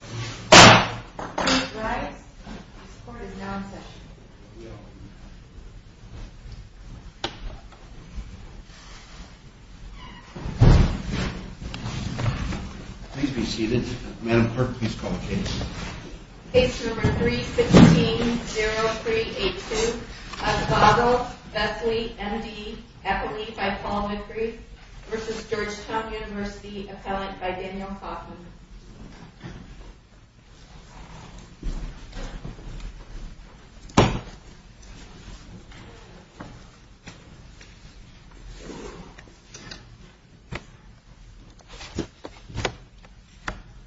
Please rise. This court is now in session. Please be seated. Madam Clerk, please call the case. Case number 3-16-0382. Osvaldo Vesely M.D. Eppley v. Paul Whitgree v. Georgetown University Appellant by Daniel Kaufman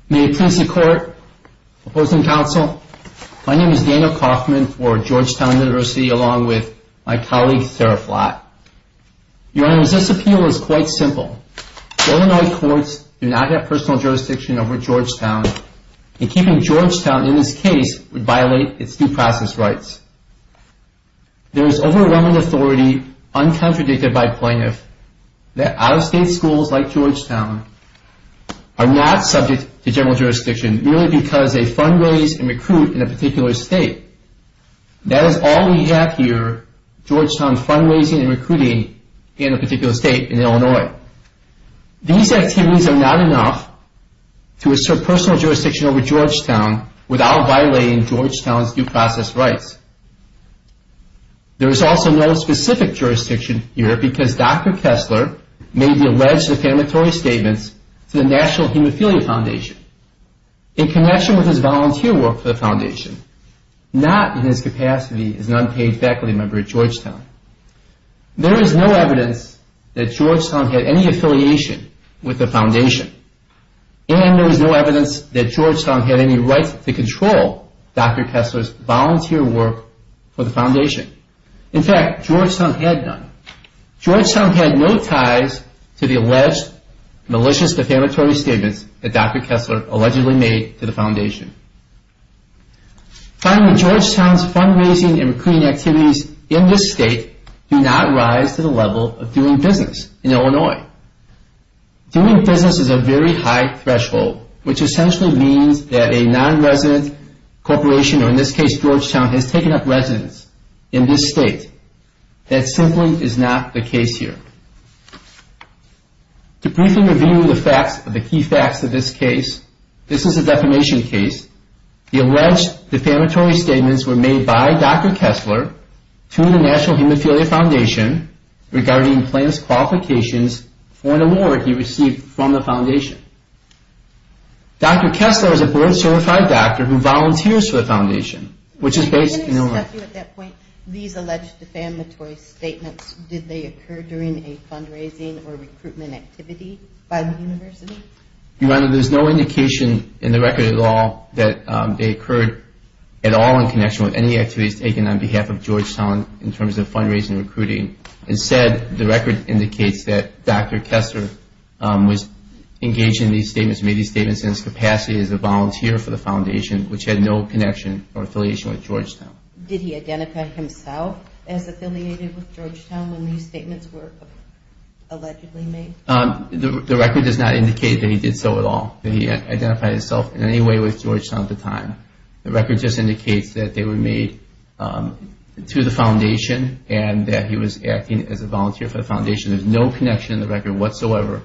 May it please the court, opposing counsel, my name is Daniel Kaufman for Georgetown University along with my colleague Sarah Flatt. Your Honor, this appeal is quite simple. Illinois courts do not have personal jurisdiction over Georgetown, and keeping Georgetown in this case would violate its due process rights. There is overwhelming authority, uncontradicted by plaintiff, that out-of-state schools like Georgetown are not subject to general jurisdiction merely because they fund-raise and recruit in a particular state. That is all we have here, Georgetown fund-raising and recruiting in a particular state in Illinois. These activities are not enough to assert personal jurisdiction over Georgetown without violating Georgetown's due process rights. There is also no specific jurisdiction here because Dr. Kessler made the alleged affirmatory statements to the National Hemophilia Foundation in connection with his volunteer work for the Foundation, not in his capacity as an unpaid faculty member at Georgetown. There is no evidence that Georgetown had any affiliation with the Foundation, and there is no evidence that Georgetown had any right to control Dr. Kessler's volunteer work for the Foundation. In fact, Georgetown had none. Georgetown had no ties to the alleged malicious affirmatory statements that Dr. Kessler allegedly made to the Foundation. Finally, Georgetown's fund-raising and recruiting activities in this state do not rise to the level of doing business in Illinois. Doing business is a very high threshold, which essentially means that a non-resident corporation, or in this case Georgetown, has taken up residence in this state. That simply is not the case here. To briefly review the facts of the key facts of this case, this is a defamation case. The alleged affirmatory statements were made by Dr. Kessler to the National Hemophilia Foundation regarding plans qualifications for an award he received from the Foundation. Dr. Kessler is a board-certified doctor who volunteers for the Foundation, which is based in Illinois. At that point, these alleged affirmatory statements, did they occur during a fund-raising or recruitment activity by the University? Your Honor, there's no indication in the record at all that they occurred at all in connection with any activities taken on behalf of Georgetown in terms of fund-raising and recruiting. Instead, the record indicates that Dr. Kessler was engaged in these statements, made these statements in his capacity as a volunteer for the Foundation, which had no connection or affiliation with Georgetown. Did he identify himself as affiliated with Georgetown when these statements were allegedly made? The record does not indicate that he did so at all. He identified himself in any way with Georgetown at the time. The record just indicates that they were made to the Foundation and that he was acting as a volunteer for the Foundation. There's no connection in the record whatsoever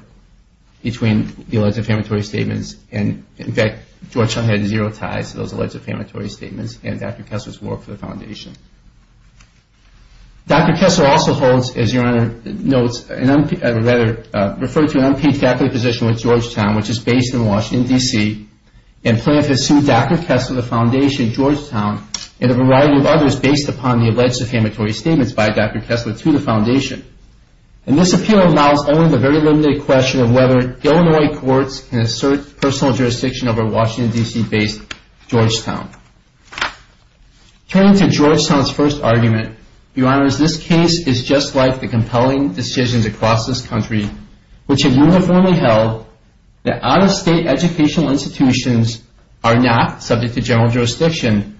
between the alleged affirmatory statements. In fact, Georgetown had zero ties to those alleged affirmatory statements and Dr. Kessler's work for the Foundation. Dr. Kessler also holds, as Your Honor notes, referred to an unpaid faculty position with Georgetown, which is based in Washington, D.C., and plans to sue Dr. Kessler, the Foundation, Georgetown, and a variety of others based upon the alleged affirmatory statements by Dr. Kessler to the Foundation. This appeal allows only the very limited question of whether Illinois courts can assert personal jurisdiction over Washington, D.C.-based Georgetown. Turning to Georgetown's first argument, Your Honor, this case is just like the compelling decisions across this country which have uniformly held that out-of-state educational institutions are not subject to general jurisdiction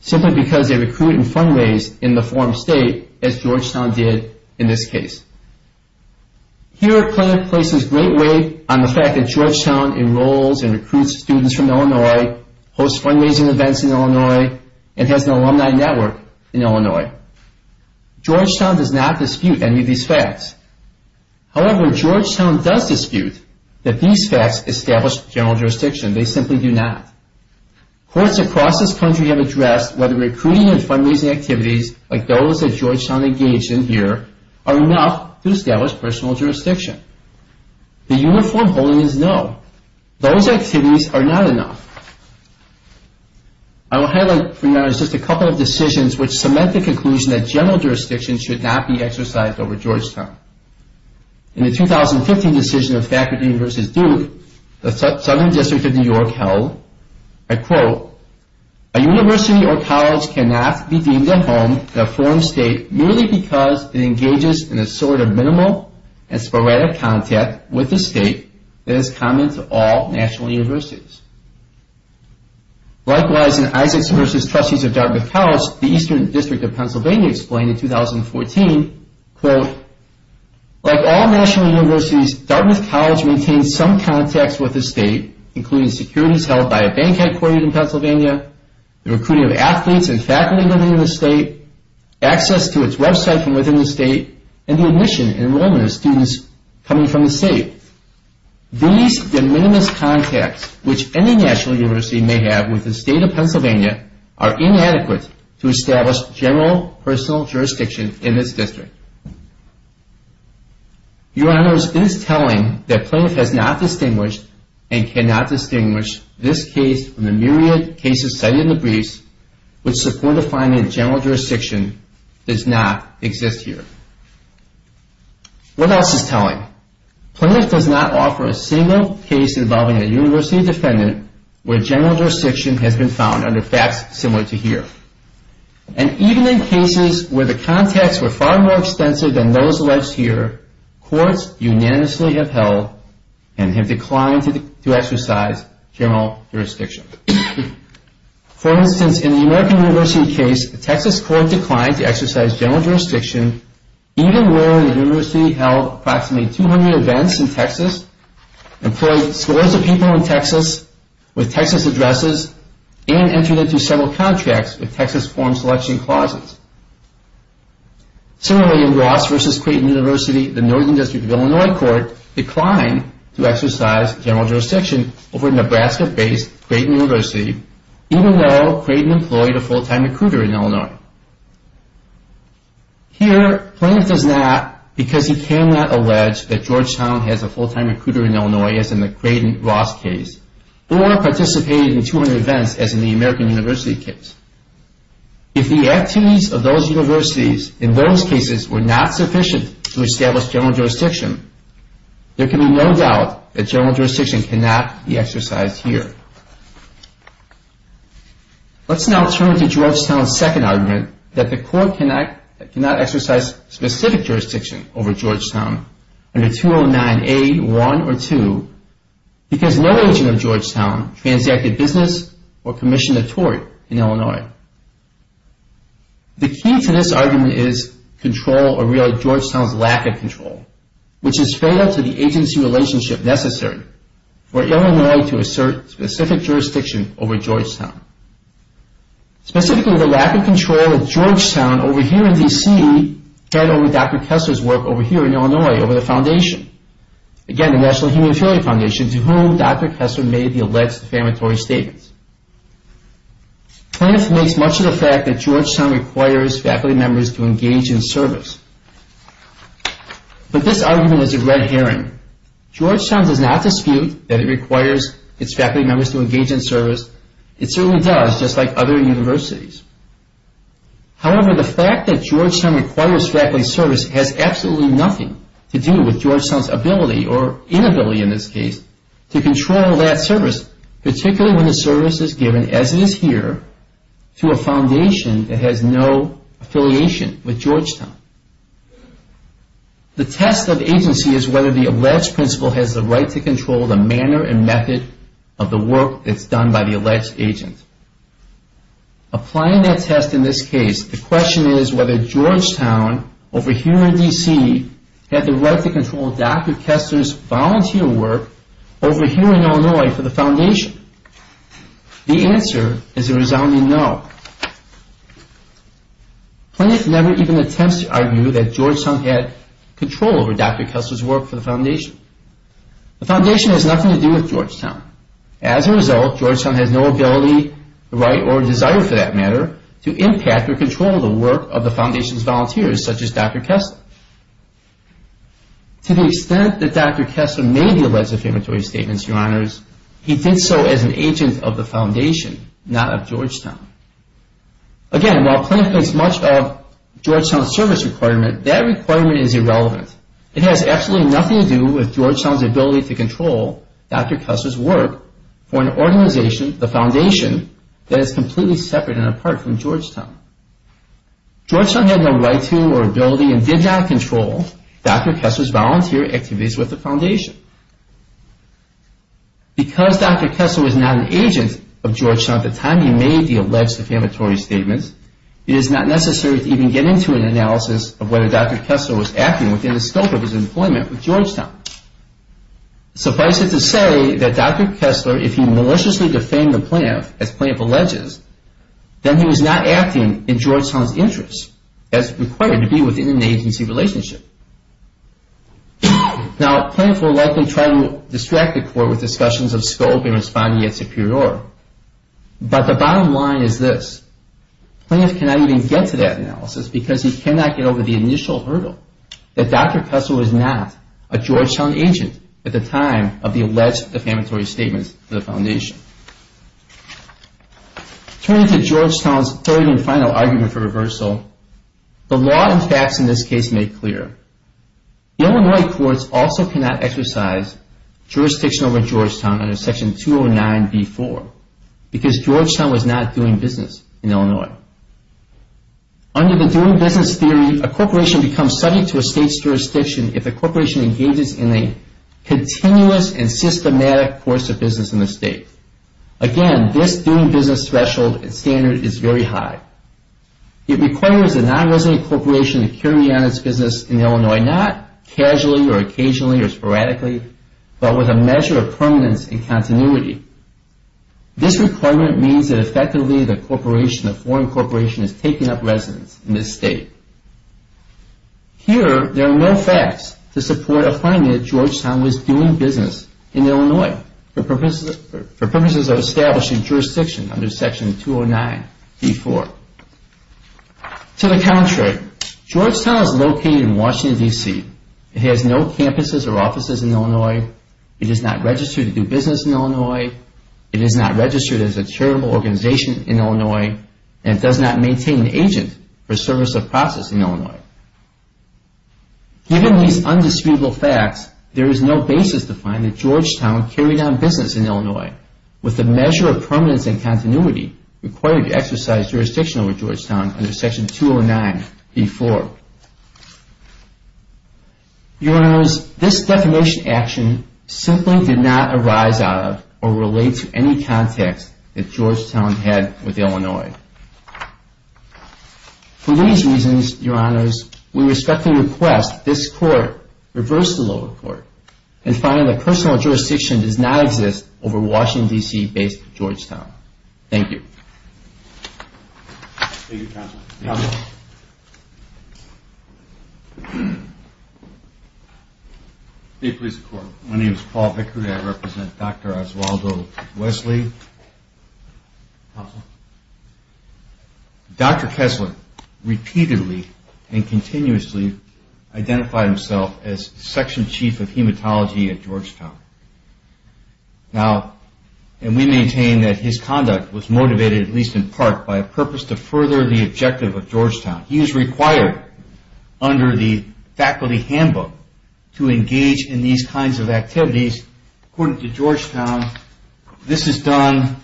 simply because they recruit and fundraise in the form state, as Georgetown did in this case. Here, a claim places great weight on the fact that Georgetown enrolls and recruits students from Illinois, hosts fundraising events in Illinois, and has an alumni network in Illinois. Georgetown does not dispute any of these facts. However, Georgetown does dispute that these facts establish general jurisdiction. They simply do not. Courts across this country have addressed whether recruiting and fundraising activities like those that Georgetown engaged in here are enough to establish personal jurisdiction. The uniform holding is no. Those activities are not enough. I will highlight for your honor just a couple of decisions which cement the conclusion that general jurisdiction should not be exercised over Georgetown. In the 2015 decision of Faculty University of Duke, the Southern District of New York held, I quote, A university or college cannot be deemed a home in a form state merely because it engages in a sort of minimal and sporadic contact with the state that is common to all national universities. Likewise, in Isaacs v. Trustees of Dartmouth College, the Eastern District of Pennsylvania explained in 2014, quote, Like all national universities, Dartmouth College maintains some contacts with the state, including securities held by a bank headquartered in Pennsylvania, the recruiting of athletes and faculty living in the state, access to its website from within the state, and the admission and enrollment of students coming from the state. These de minimis contacts which any national university may have with the state of Pennsylvania are inadequate to establish general personal jurisdiction in this district. Your honors, it is telling that Plaintiff has not distinguished and cannot distinguish this case from the myriad cases cited in the briefs which support a finding that general jurisdiction does not exist here. What else is telling? Plaintiff does not offer a single case involving a university defendant where general jurisdiction has been found under facts similar to here. And even in cases where the contacts were far more extensive than those alleged here, courts unanimously have held and have declined to exercise general jurisdiction. For instance, in the American University case, the Texas court declined to exercise general jurisdiction even when the university held approximately 200 events in Texas, employed scores of people in Texas with Texas addresses, and entered into several contracts with Texas form selection clauses. Similarly, in Ross v. Creighton University, the Northern District of Illinois court declined to exercise general jurisdiction over a Nebraska-based Creighton University, even though Creighton employed a full-time recruiter in Illinois. Here, Plaintiff does not, because he cannot allege that Georgetown has a full-time recruiter in Illinois as in the Creighton-Ross case, or participated in 200 events as in the American University case. If the activities of those universities in those cases were not sufficient to establish general jurisdiction, there can be no doubt that general jurisdiction cannot be exercised here. Let's now turn to Georgetown's second argument that the court cannot exercise specific jurisdiction over Georgetown under 209A1 or 2 because no agent of Georgetown transacted business or commissioned a tort in Illinois. The key to this argument is control, or really Georgetown's lack of control, which is fed up to the agency relationship necessary for Illinois to assert specific jurisdiction over Georgetown. Specifically, the lack of control of Georgetown over here in D.C. fed over Dr. Kessler's work over here in Illinois, over the foundation. Again, the National Human Failure Foundation, to whom Dr. Kessler made the alleged defamatory statements. Plaintiff makes much of the fact that Georgetown requires faculty members to engage in service. But this argument is a red herring. Georgetown does not dispute that it requires its faculty members to engage in service. It certainly does, just like other universities. However, the fact that Georgetown requires faculty service has absolutely nothing to do with Georgetown's ability, or inability in this case, to control that service, particularly when the service is given, as it is here, to a foundation that has no affiliation with Georgetown. The test of agency is whether the alleged principal has the right to control the manner and method of the work that's done by the alleged agent. Applying that test in this case, the question is whether Georgetown, over here in D.C., had the right to control Dr. Kessler's volunteer work over here in Illinois for the foundation. The answer is a resounding no. Plaintiff never even attempts to argue that Georgetown had control over Dr. Kessler's work for the foundation. The foundation has nothing to do with Georgetown. As a result, Georgetown has no ability, right, or desire for that matter, to impact or control the work of the foundation's volunteers, such as Dr. Kessler. To the extent that Dr. Kessler made the alleged affirmatory statements, Your Honors, he did so as an agent of the foundation, not of Georgetown. Again, while plaintiff makes much of Georgetown's service requirement, that requirement is irrelevant. It has absolutely nothing to do with Georgetown's ability to control Dr. Kessler's work for an organization, the foundation, that is completely separate and apart from Georgetown. Georgetown had no right to or ability and did not control Dr. Kessler's volunteer activities with the foundation. Because Dr. Kessler was not an agent of Georgetown at the time he made the alleged affirmatory statements, it is not necessary to even get into an analysis of whether Dr. Kessler was acting within the scope of his employment with Georgetown. Suffice it to say that Dr. Kessler, if he maliciously defamed the plaintiff, as plaintiff alleges, then he was not acting in Georgetown's interest as required to be within an agency relationship. Now, plaintiff will likely try to distract the court with discussions of scope and responding at superior. But the bottom line is this, plaintiff cannot even get to that analysis because he cannot get over the initial hurdle that Dr. Kessler was not a Georgetown agent at the time of the alleged affirmatory statements to the foundation. Turning to Georgetown's third and final argument for reversal, the law and facts in this case make clear. The Illinois courts also cannot exercise jurisdiction over Georgetown under Section 209b-4 because Georgetown was not doing business in Illinois. Under the doing business theory, a corporation becomes subject to a state's jurisdiction if a corporation engages in a continuous and systematic course of business in the state. Again, this doing business threshold and standard is very high. It requires a non-resident corporation to carry on its business in Illinois, not casually or occasionally or sporadically, but with a measure of permanence and continuity. This requirement means that effectively the corporation, the foreign corporation, is taking up residence in this state. Here, there are no facts to support a claim that Georgetown was doing business in Illinois for purposes of establishing jurisdiction under Section 209b-4. To the contrary, Georgetown is located in Washington, D.C. It has no campuses or offices in Illinois. It is not registered to do business in Illinois. It is not registered as a charitable organization in Illinois. And it does not maintain an agent for service of process in Illinois. Given these indisputable facts, there is no basis to find that Georgetown carried on business in Illinois with the measure of permanence and continuity required to exercise jurisdiction over Georgetown under Section 209b-4. Your Honors, this definition action simply did not arise out of or relate to any context that Georgetown had with Illinois. For these reasons, Your Honors, we respectfully request this Court reverse the lower court and find that personal jurisdiction does not exist over Washington, D.C.-based Georgetown. Thank you. My name is Paul Vickery. I represent Dr. Oswaldo Wesley. Dr. Kessler repeatedly and continuously identified himself as Section Chief of Hematology at Georgetown. Now, and we maintain that his conduct was motivated, at least in part, by a purpose to further the objective of Georgetown. He was required under the faculty handbook to engage in these kinds of activities. According to Georgetown, this is done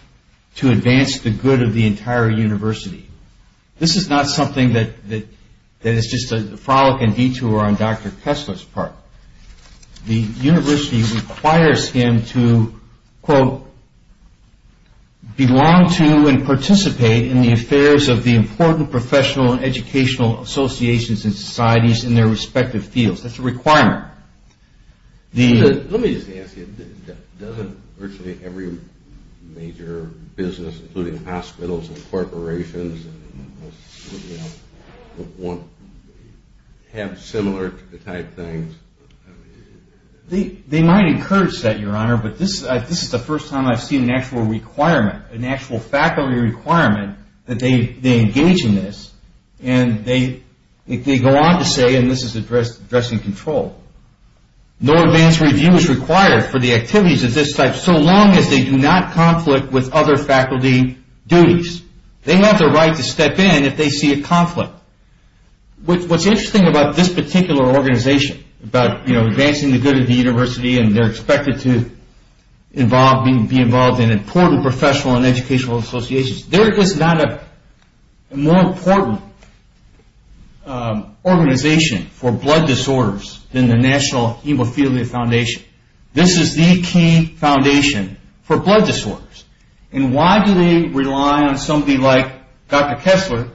to advance the good of the entire university. This is not something that is just a frolic and detour on Dr. Kessler's part. The university requires him to, quote, belong to and participate in the affairs of the important professional and educational associations and societies in their respective fields. That's a requirement. Let me just ask you, doesn't virtually every major business, including hospitals and corporations, have similar type things? They might encourage that, Your Honor, but this is the first time I've seen an actual requirement, an actual faculty requirement that they engage in this. And they go on to say, and this is addressing control, no advanced review is required for the activities of this type so long as they do not conflict with other faculty duties. They have the right to step in if they see a conflict. What's interesting about this particular organization, about advancing the good of the university and they're expected to be involved in important professional and educational associations, they're just not a more important organization for blood disorders than the National Hemophilia Foundation. This is the key foundation for blood disorders. And why do they rely on somebody like Dr. Kessler?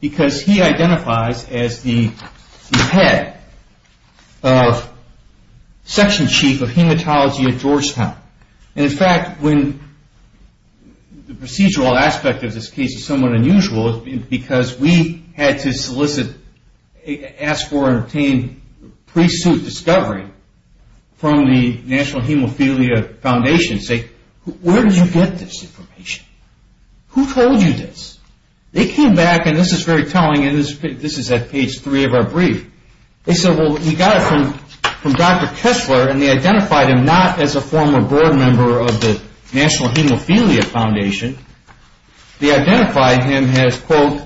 Because he identifies as the head, section chief of hematology at Georgetown. And in fact, the procedural aspect of this case is somewhat unusual because we had to solicit, ask for, and obtain pre-suit discovery from the National Hemophilia Foundation to say, where did you get this information? Who told you this? They came back, and this is very telling, and this is at page three of our brief. They said, well, we got it from Dr. Kessler, and they identified him not as a former board member of the National Hemophilia Foundation. They identified him as, quote,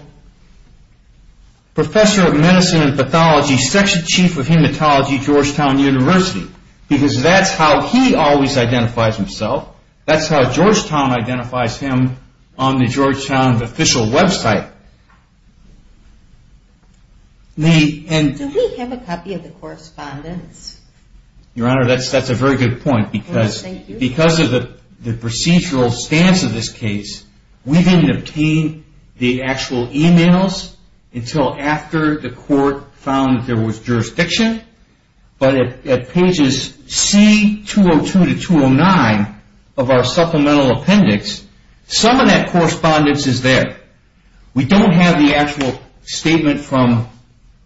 professor of medicine and pathology, section chief of hematology, Georgetown University. Because that's how he always identifies himself. That's how Georgetown identifies him on the Georgetown official website. Do we have a copy of the correspondence? Your Honor, that's a very good point. Because of the procedural stance of this case, we didn't obtain the actual e-mails until after the court found there was jurisdiction. But at pages C202 to 209 of our supplemental appendix, some of that correspondence is there. We don't have the actual statement from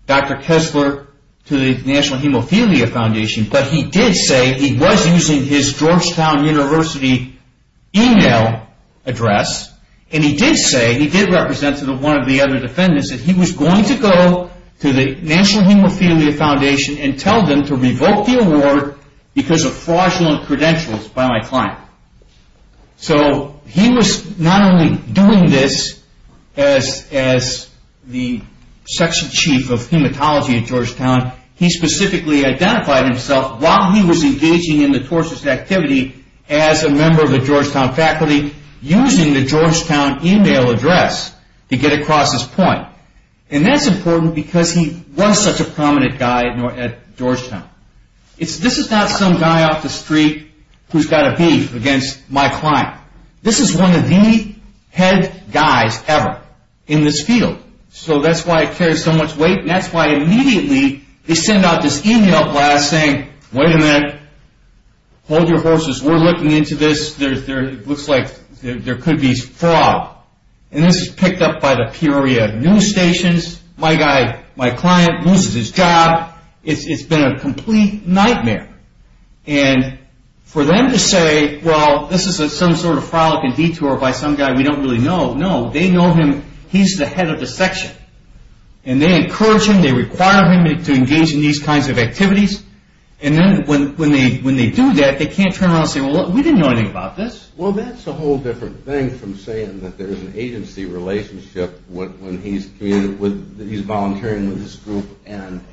Dr. Kessler to the National Hemophilia Foundation, but he did say he was using his Georgetown University e-mail address, and he did say, he did represent one of the other defendants, that he was going to go to the National Hemophilia Foundation and tell them to revoke the award because of fraudulent credentials by my client. So he was not only doing this as the section chief of hematology at Georgetown, he specifically identified himself while he was engaging in the tortious activity as a member of the Georgetown faculty, using the Georgetown e-mail address to get across his point. And that's important because he was such a prominent guy at Georgetown. This is not some guy off the street who's got a beef against my client. This is one of the head guys ever in this field. So that's why it carries so much weight, and that's why immediately they send out this e-mail blast saying, wait a minute, hold your horses, we're looking into this. It looks like there could be fraud. And this is picked up by the Peoria news stations. My client loses his job. It's been a complete nightmare. And for them to say, well, this is some sort of frolicking detour by some guy we don't really know. No, they know him. He's the head of the section. And they encourage him, they require him to engage in these kinds of activities. And then when they do that, they can't turn around and say, well, we didn't know anything about this. Well, that's a whole different thing from saying that there's an agency relationship when he's volunteering with this group and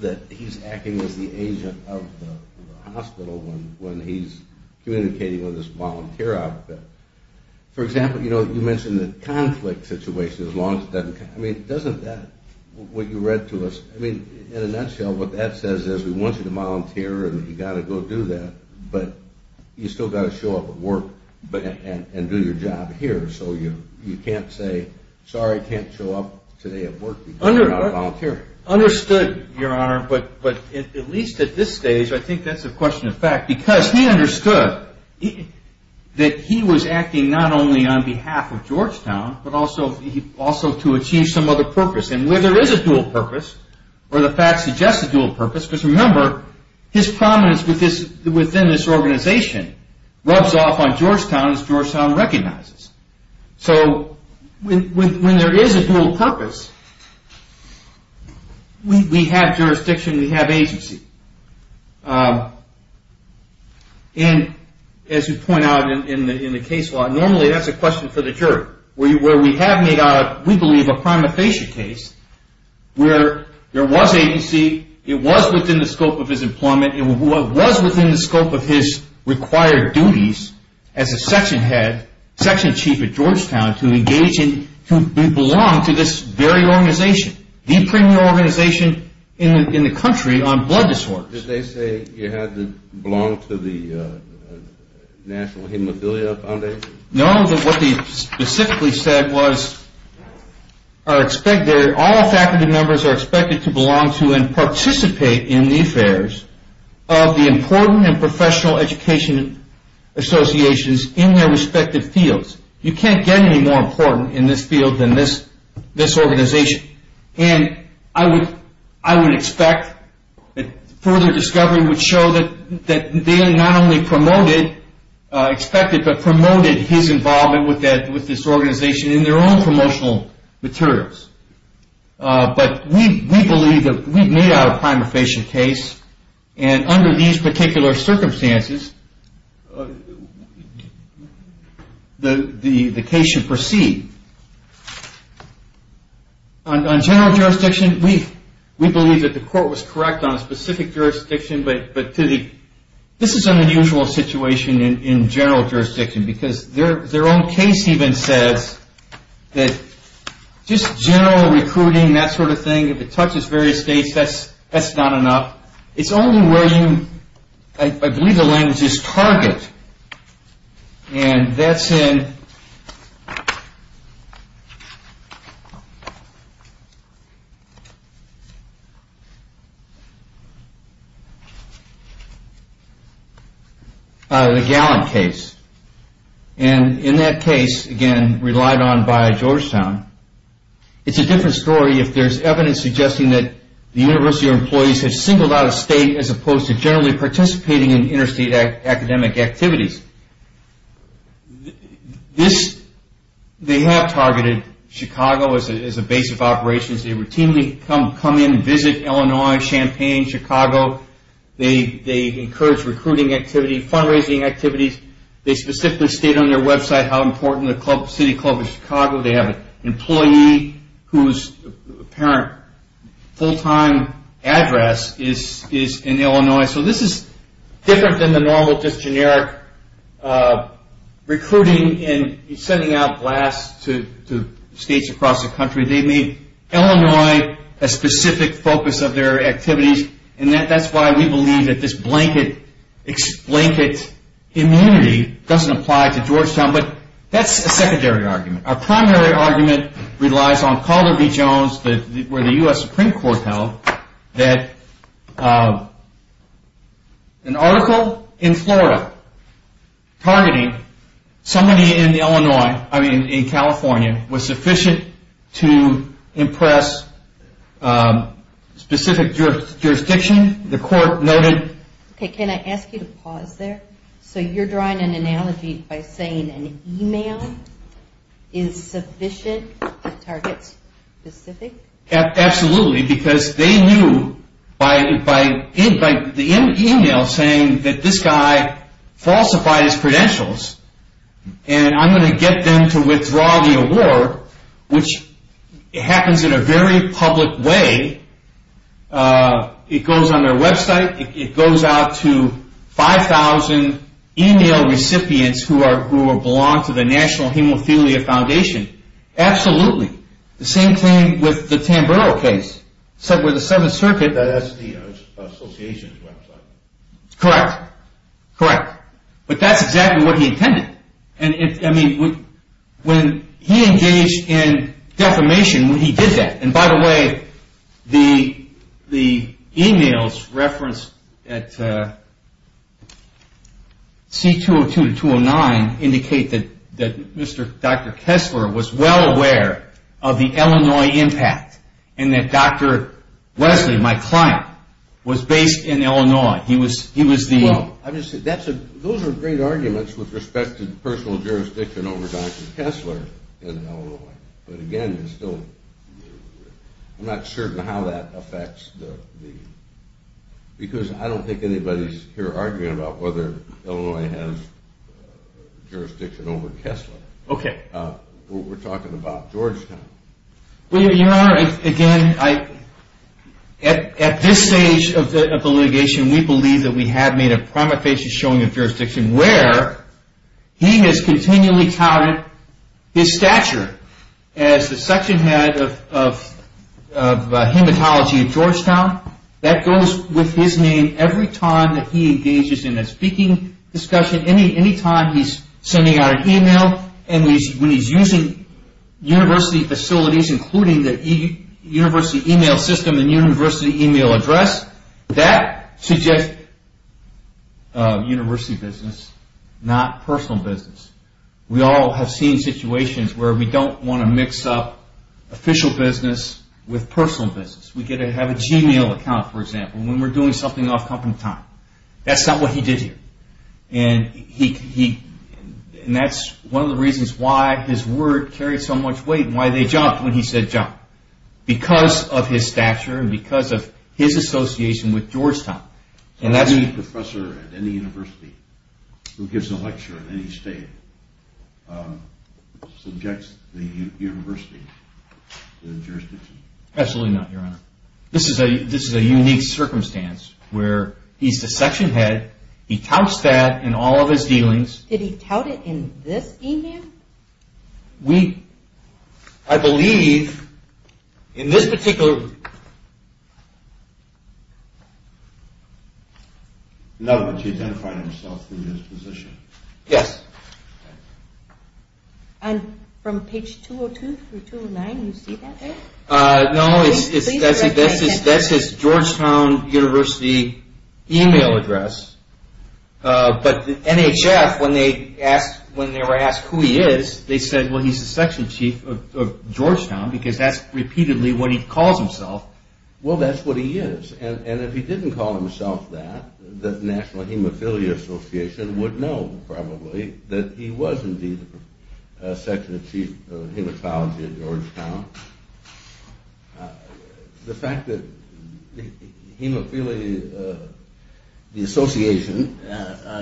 that he's acting as the agent of the hospital when he's communicating with this volunteer outfit. For example, you know, you mentioned the conflict situation. I mean, doesn't that, what you read to us, I mean, in a nutshell, what that says is we want you to volunteer and you've got to go do that, but you've still got to show up at work and do your job here. So you can't say, sorry, I can't show up today at work because I'm not a volunteer. Understood, Your Honor, but at least at this stage I think that's a question of fact because he understood that he was acting not only on behalf of Georgetown but also to achieve some other purpose. And whether there is a dual purpose or the facts suggest a dual purpose, because remember, his prominence within this organization rubs off on Georgetown as Georgetown recognizes. So when there is a dual purpose, we have jurisdiction, we have agency. And as you point out in the case law, normally that's a question for the jury. Where we have made out, we believe, a prima facie case where there was agency, it was within the scope of his employment, it was within the scope of his required duties as a section head, section chief at Georgetown to engage in, to belong to this very organization, the premier organization in the country on blood disorders. Did they say you had to belong to the National Hemophilia Foundation? No, but what they specifically said was all faculty members are expected to belong to and participate in the affairs of the important and professional education associations in their respective fields. You can't get any more important in this field than this organization. And I would expect that further discovery would show that they not only promoted, expected but promoted his involvement with this organization in their own promotional materials. But we believe that we've made out a prima facie case, and under these particular circumstances the case should proceed. On general jurisdiction, we believe that the court was correct on specific jurisdiction, but this is an unusual situation in general jurisdiction because their own case even says that just general recruiting, that sort of thing, if it touches various states, that's not enough. It's only where you, I believe the language is target. And that's in the Gallant case. And in that case, again, relied on by Georgetown, it's a different story if there's evidence suggesting that the university or employees have singled out a state as opposed to generally participating in interstate academic activities. They have targeted Chicago as a base of operations. They routinely come in and visit Illinois, Champaign, Chicago. They encourage recruiting activity, fundraising activities. They specifically state on their website how important the city club is to Chicago. They have an employee whose apparent full-time address is in Illinois. So this is different than the normal just generic recruiting and sending out blasts to states across the country. They made Illinois a specific focus of their activities. And that's why we believe that this blanket immunity doesn't apply to Georgetown. But that's a secondary argument. Our primary argument relies on Calderby Jones where the U.S. Supreme Court held that an article in Florida targeting somebody in Illinois, I mean in California, was sufficient to impress specific jurisdiction. The court noted. Okay, can I ask you to pause there? So you're drawing an analogy by saying an email is sufficient to target specific? Absolutely, because they knew by the email saying that this guy falsified his credentials and I'm going to get them to withdraw the award, which happens in a very public way. It goes on their website. It goes out to 5,000 email recipients who belong to the National Hemophilia Foundation. Absolutely. The same thing with the Tamburo case, where the 7th Circuit. That's the association's website. Correct. Correct. But that's exactly what he intended. I mean, when he engaged in defamation, he did that. And by the way, the emails referenced at C-202-209 indicate that Dr. Kessler was well aware of the Illinois impact and that Dr. Wesley, my client, was based in Illinois. Those are great arguments with respect to personal jurisdiction over Dr. Kessler in Illinois. But again, I'm not certain how that affects the – because I don't think anybody's here arguing about whether Illinois has jurisdiction over Kessler. Okay. We're talking about Georgetown. Well, Your Honor, again, at this stage of the litigation, we believe that we have made a prima facie showing of jurisdiction where he has continually touted his stature as the section head of hematology at Georgetown. That goes with his name every time that he engages in a speaking discussion, any time he's sending out an email, and when he's using university facilities, including the university email system and university email address, that suggests university business, not personal business. We all have seen situations where we don't want to mix up official business with personal business. We could have a Gmail account, for example, when we're doing something off-company time. That's not what he did here. And that's one of the reasons why his word carried so much weight and why they jumped when he said jump, because of his stature and because of his association with Georgetown. So any professor at any university who gives a lecture in any state subjects the university to the jurisdiction? Absolutely not, Your Honor. This is a unique circumstance where he's the section head. He touts that in all of his dealings. Did he tout it in this email? I believe in this particular – no, but she identified herself in this position. Yes. And from page 202 through 209, you see that there? No, that's his Georgetown University email address. But the NHF, when they were asked who he is, they said, well, he's the section chief of Georgetown, because that's repeatedly what he calls himself. Well, that's what he is. And if he didn't call himself that, the National Hemophilia Association would know, probably, that he was indeed the section chief of hemophilia at Georgetown. The fact that the association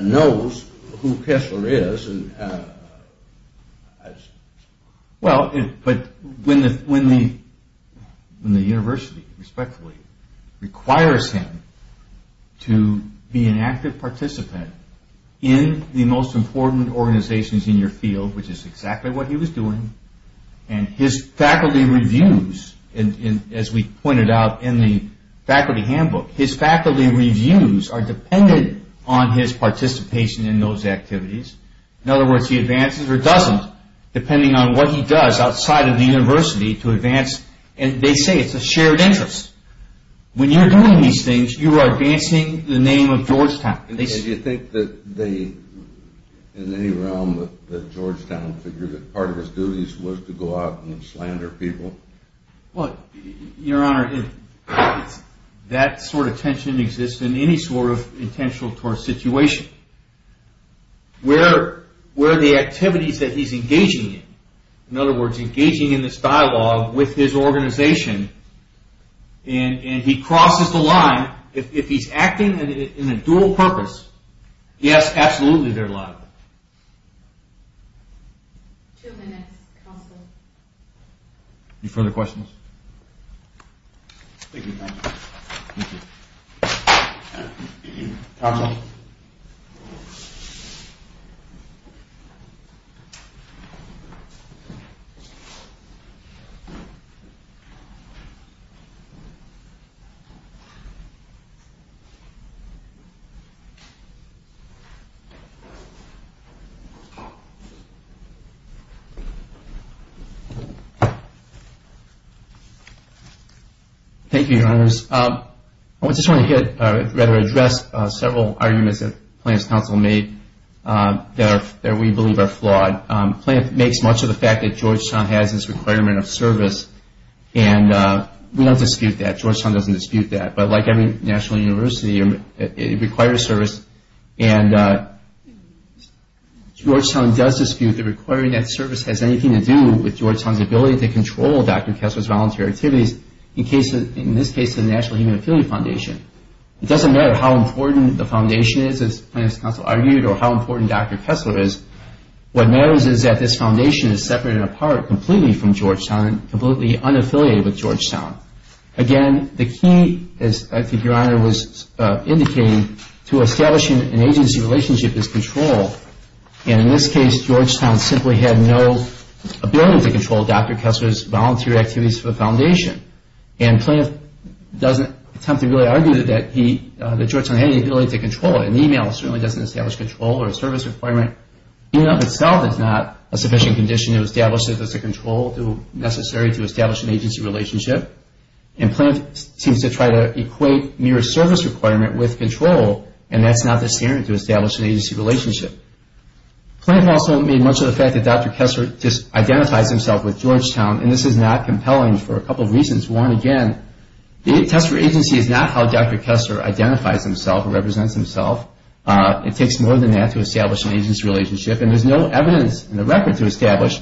knows who Kessler is. Well, but when the university, respectfully, requires him to be an active participant in the most important organizations in your field, which is exactly what he was doing, and his faculty reviews, as we pointed out in the faculty handbook, his faculty reviews are dependent on his participation in those activities. In other words, he advances or doesn't, depending on what he does outside of the university to advance. And they say it's a shared interest. When you're doing these things, you are advancing the name of Georgetown. And do you think that they, in any realm, that Georgetown figured that part of his duties was to go out and slander people? Well, your honor, that sort of tension exists in any sort of intentional tort situation. Where the activities that he's engaging in, in other words, engaging in this dialogue with his organization, and he crosses the line, if he's acting in a dual purpose, yes, absolutely, they're liable. Two minutes, counsel. Any further questions? Thank you, counsel. Thank you. Counsel. Thank you, your honors. I just want to address several arguments that Plante's counsel made that we believe are flawed. Plante makes much of the fact that Georgetown has this requirement of service, and we don't dispute that. Georgetown doesn't dispute that. But like every national university, it requires service, and Georgetown does dispute the requirement that service has anything to do with Georgetown's ability to control Dr. Kessler's volunteer activities, in this case, the National Human Affiliate Foundation. It doesn't matter how important the foundation is, as Plante's counsel argued, or how important Dr. Kessler is. What matters is that this foundation is separated apart completely from Georgetown and completely unaffiliated with Georgetown. Again, the key, as I think your honor was indicating, to establishing an agency relationship is control. And in this case, Georgetown simply had no ability to control Dr. Kessler's volunteer activities for the foundation. And Plante doesn't attempt to really argue that Georgetown had any ability to control it. An email certainly doesn't establish control or a service requirement. The email itself is not a sufficient condition to establish that there's a control necessary to establish an agency relationship. And Plante seems to try to equate mere service requirement with control, and that's not the standard to establish an agency relationship. Plante also made much of the fact that Dr. Kessler just identifies himself with Georgetown, and this is not compelling for a couple of reasons. One, again, the test for agency is not how Dr. Kessler identifies himself or represents himself. It takes more than that to establish an agency relationship, and there's no evidence in the record to establish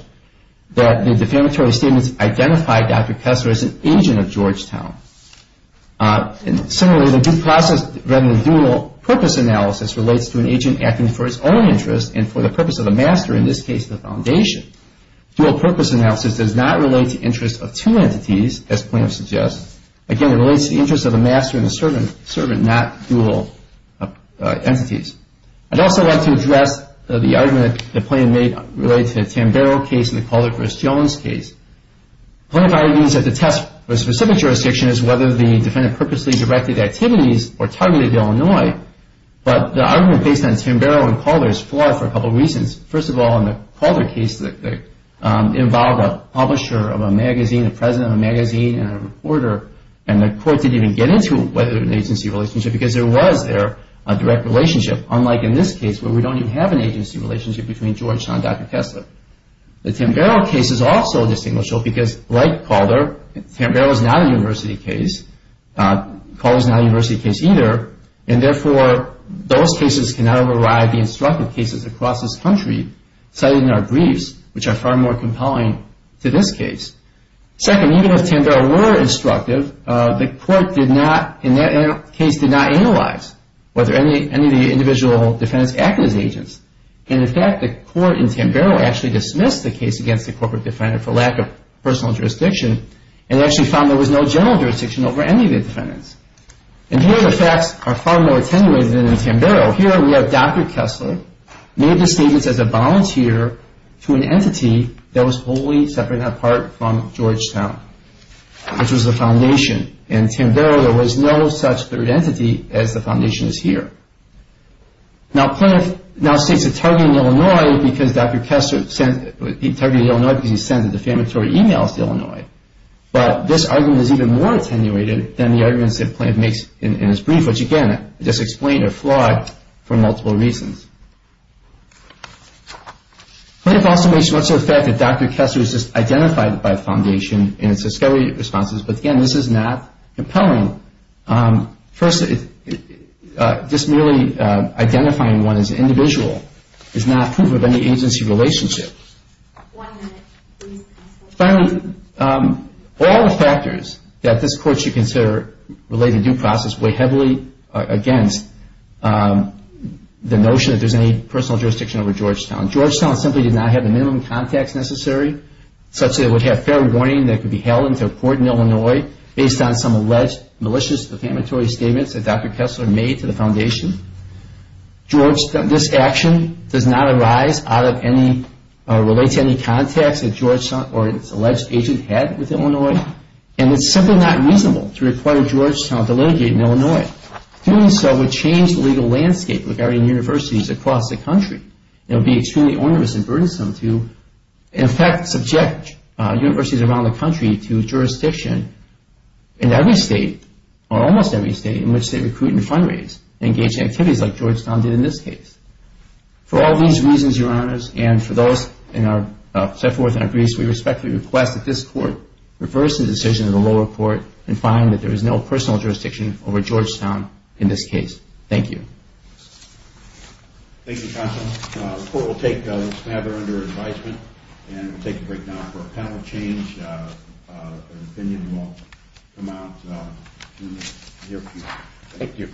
that the defamatory statements identify Dr. Kessler as an agent of Georgetown. Similarly, the due process rather than dual purpose analysis relates to an agent acting for his own interest and for the purpose of a master, in this case the foundation. Dual purpose analysis does not relate to interest of two entities, as Plante suggests. Again, it relates to the interest of a master and a servant, not dual entities. I'd also like to address the argument that Plante made related to the Tambaro case and the Calder versus Jones case. Plante argues that the test for a specific jurisdiction is whether the defendant purposely directed activities or targeted Illinois, but the argument based on Tambaro and Calder is flawed for a couple of reasons. First of all, in the Calder case, it involved a publisher of a magazine, a president of a magazine, and a reporter, and the court didn't even get into whether it was an agency relationship because there was there a direct relationship, unlike in this case where we don't even have an agency relationship between Georgetown and Dr. Kessler. The Tambaro case is also distinguishable because, like Calder, Tambaro is not a university case. Calder is not a university case either, and therefore those cases cannot override the instructive cases across this country cited in our briefs, which are far more compelling to this case. Second, even if Tambaro were instructive, the court did not, in that case, did not analyze whether any of the individual defendants acted as agents. In fact, the court in Tambaro actually dismissed the case against the corporate defendant for lack of personal jurisdiction and actually found there was no general jurisdiction over any of the defendants. And here the facts are far more attenuated than in Tambaro. Here we have Dr. Kessler made the statements as a volunteer to an entity that was wholly separate and apart from Georgetown, which was the foundation. In Tambaro, there was no such third entity as the foundation is here. Now, Plano now states it targeted Illinois because Dr. Kessler sent, he targeted Illinois because he sent a defamatory email to Illinois, but this argument is even more attenuated than the arguments that Plano makes in his brief, which, again, just explained are flawed for multiple reasons. Plano also makes much of the fact that Dr. Kessler was just identified by a foundation in his discovery responses, but, again, this is not compelling. First, just merely identifying one as an individual is not proof of any agency relationship. One minute, please. Finally, all the factors that this court should consider related to due process weigh heavily against the notion that there's any personal jurisdiction over Georgetown. Georgetown simply did not have the minimum contacts necessary, such that it would have fair warning that it could be held into a court in Illinois based on some alleged malicious defamatory statements that Dr. Kessler made to the foundation. This action does not arise out of any, relates to any contacts that Georgetown or its alleged agent had with Illinois, and it's simply not reasonable to require Georgetown to litigate in Illinois. Doing so would change the legal landscape with varying universities across the country. It would be extremely onerous and burdensome to, in fact, subject universities around the country to jurisdiction in every state, or almost every state in which they recruit and fundraise and engage in activities like Georgetown did in this case. For all these reasons, Your Honors, and for those in our set forth in our briefs, we respectfully request that this court reverse the decision of the lower court and find that there is no personal jurisdiction over Georgetown in this case. Thank you. Thank you, Counselor. The court will take the matter under advisement and take a break now for a panel change. And then we will come out in a few minutes. Thank you.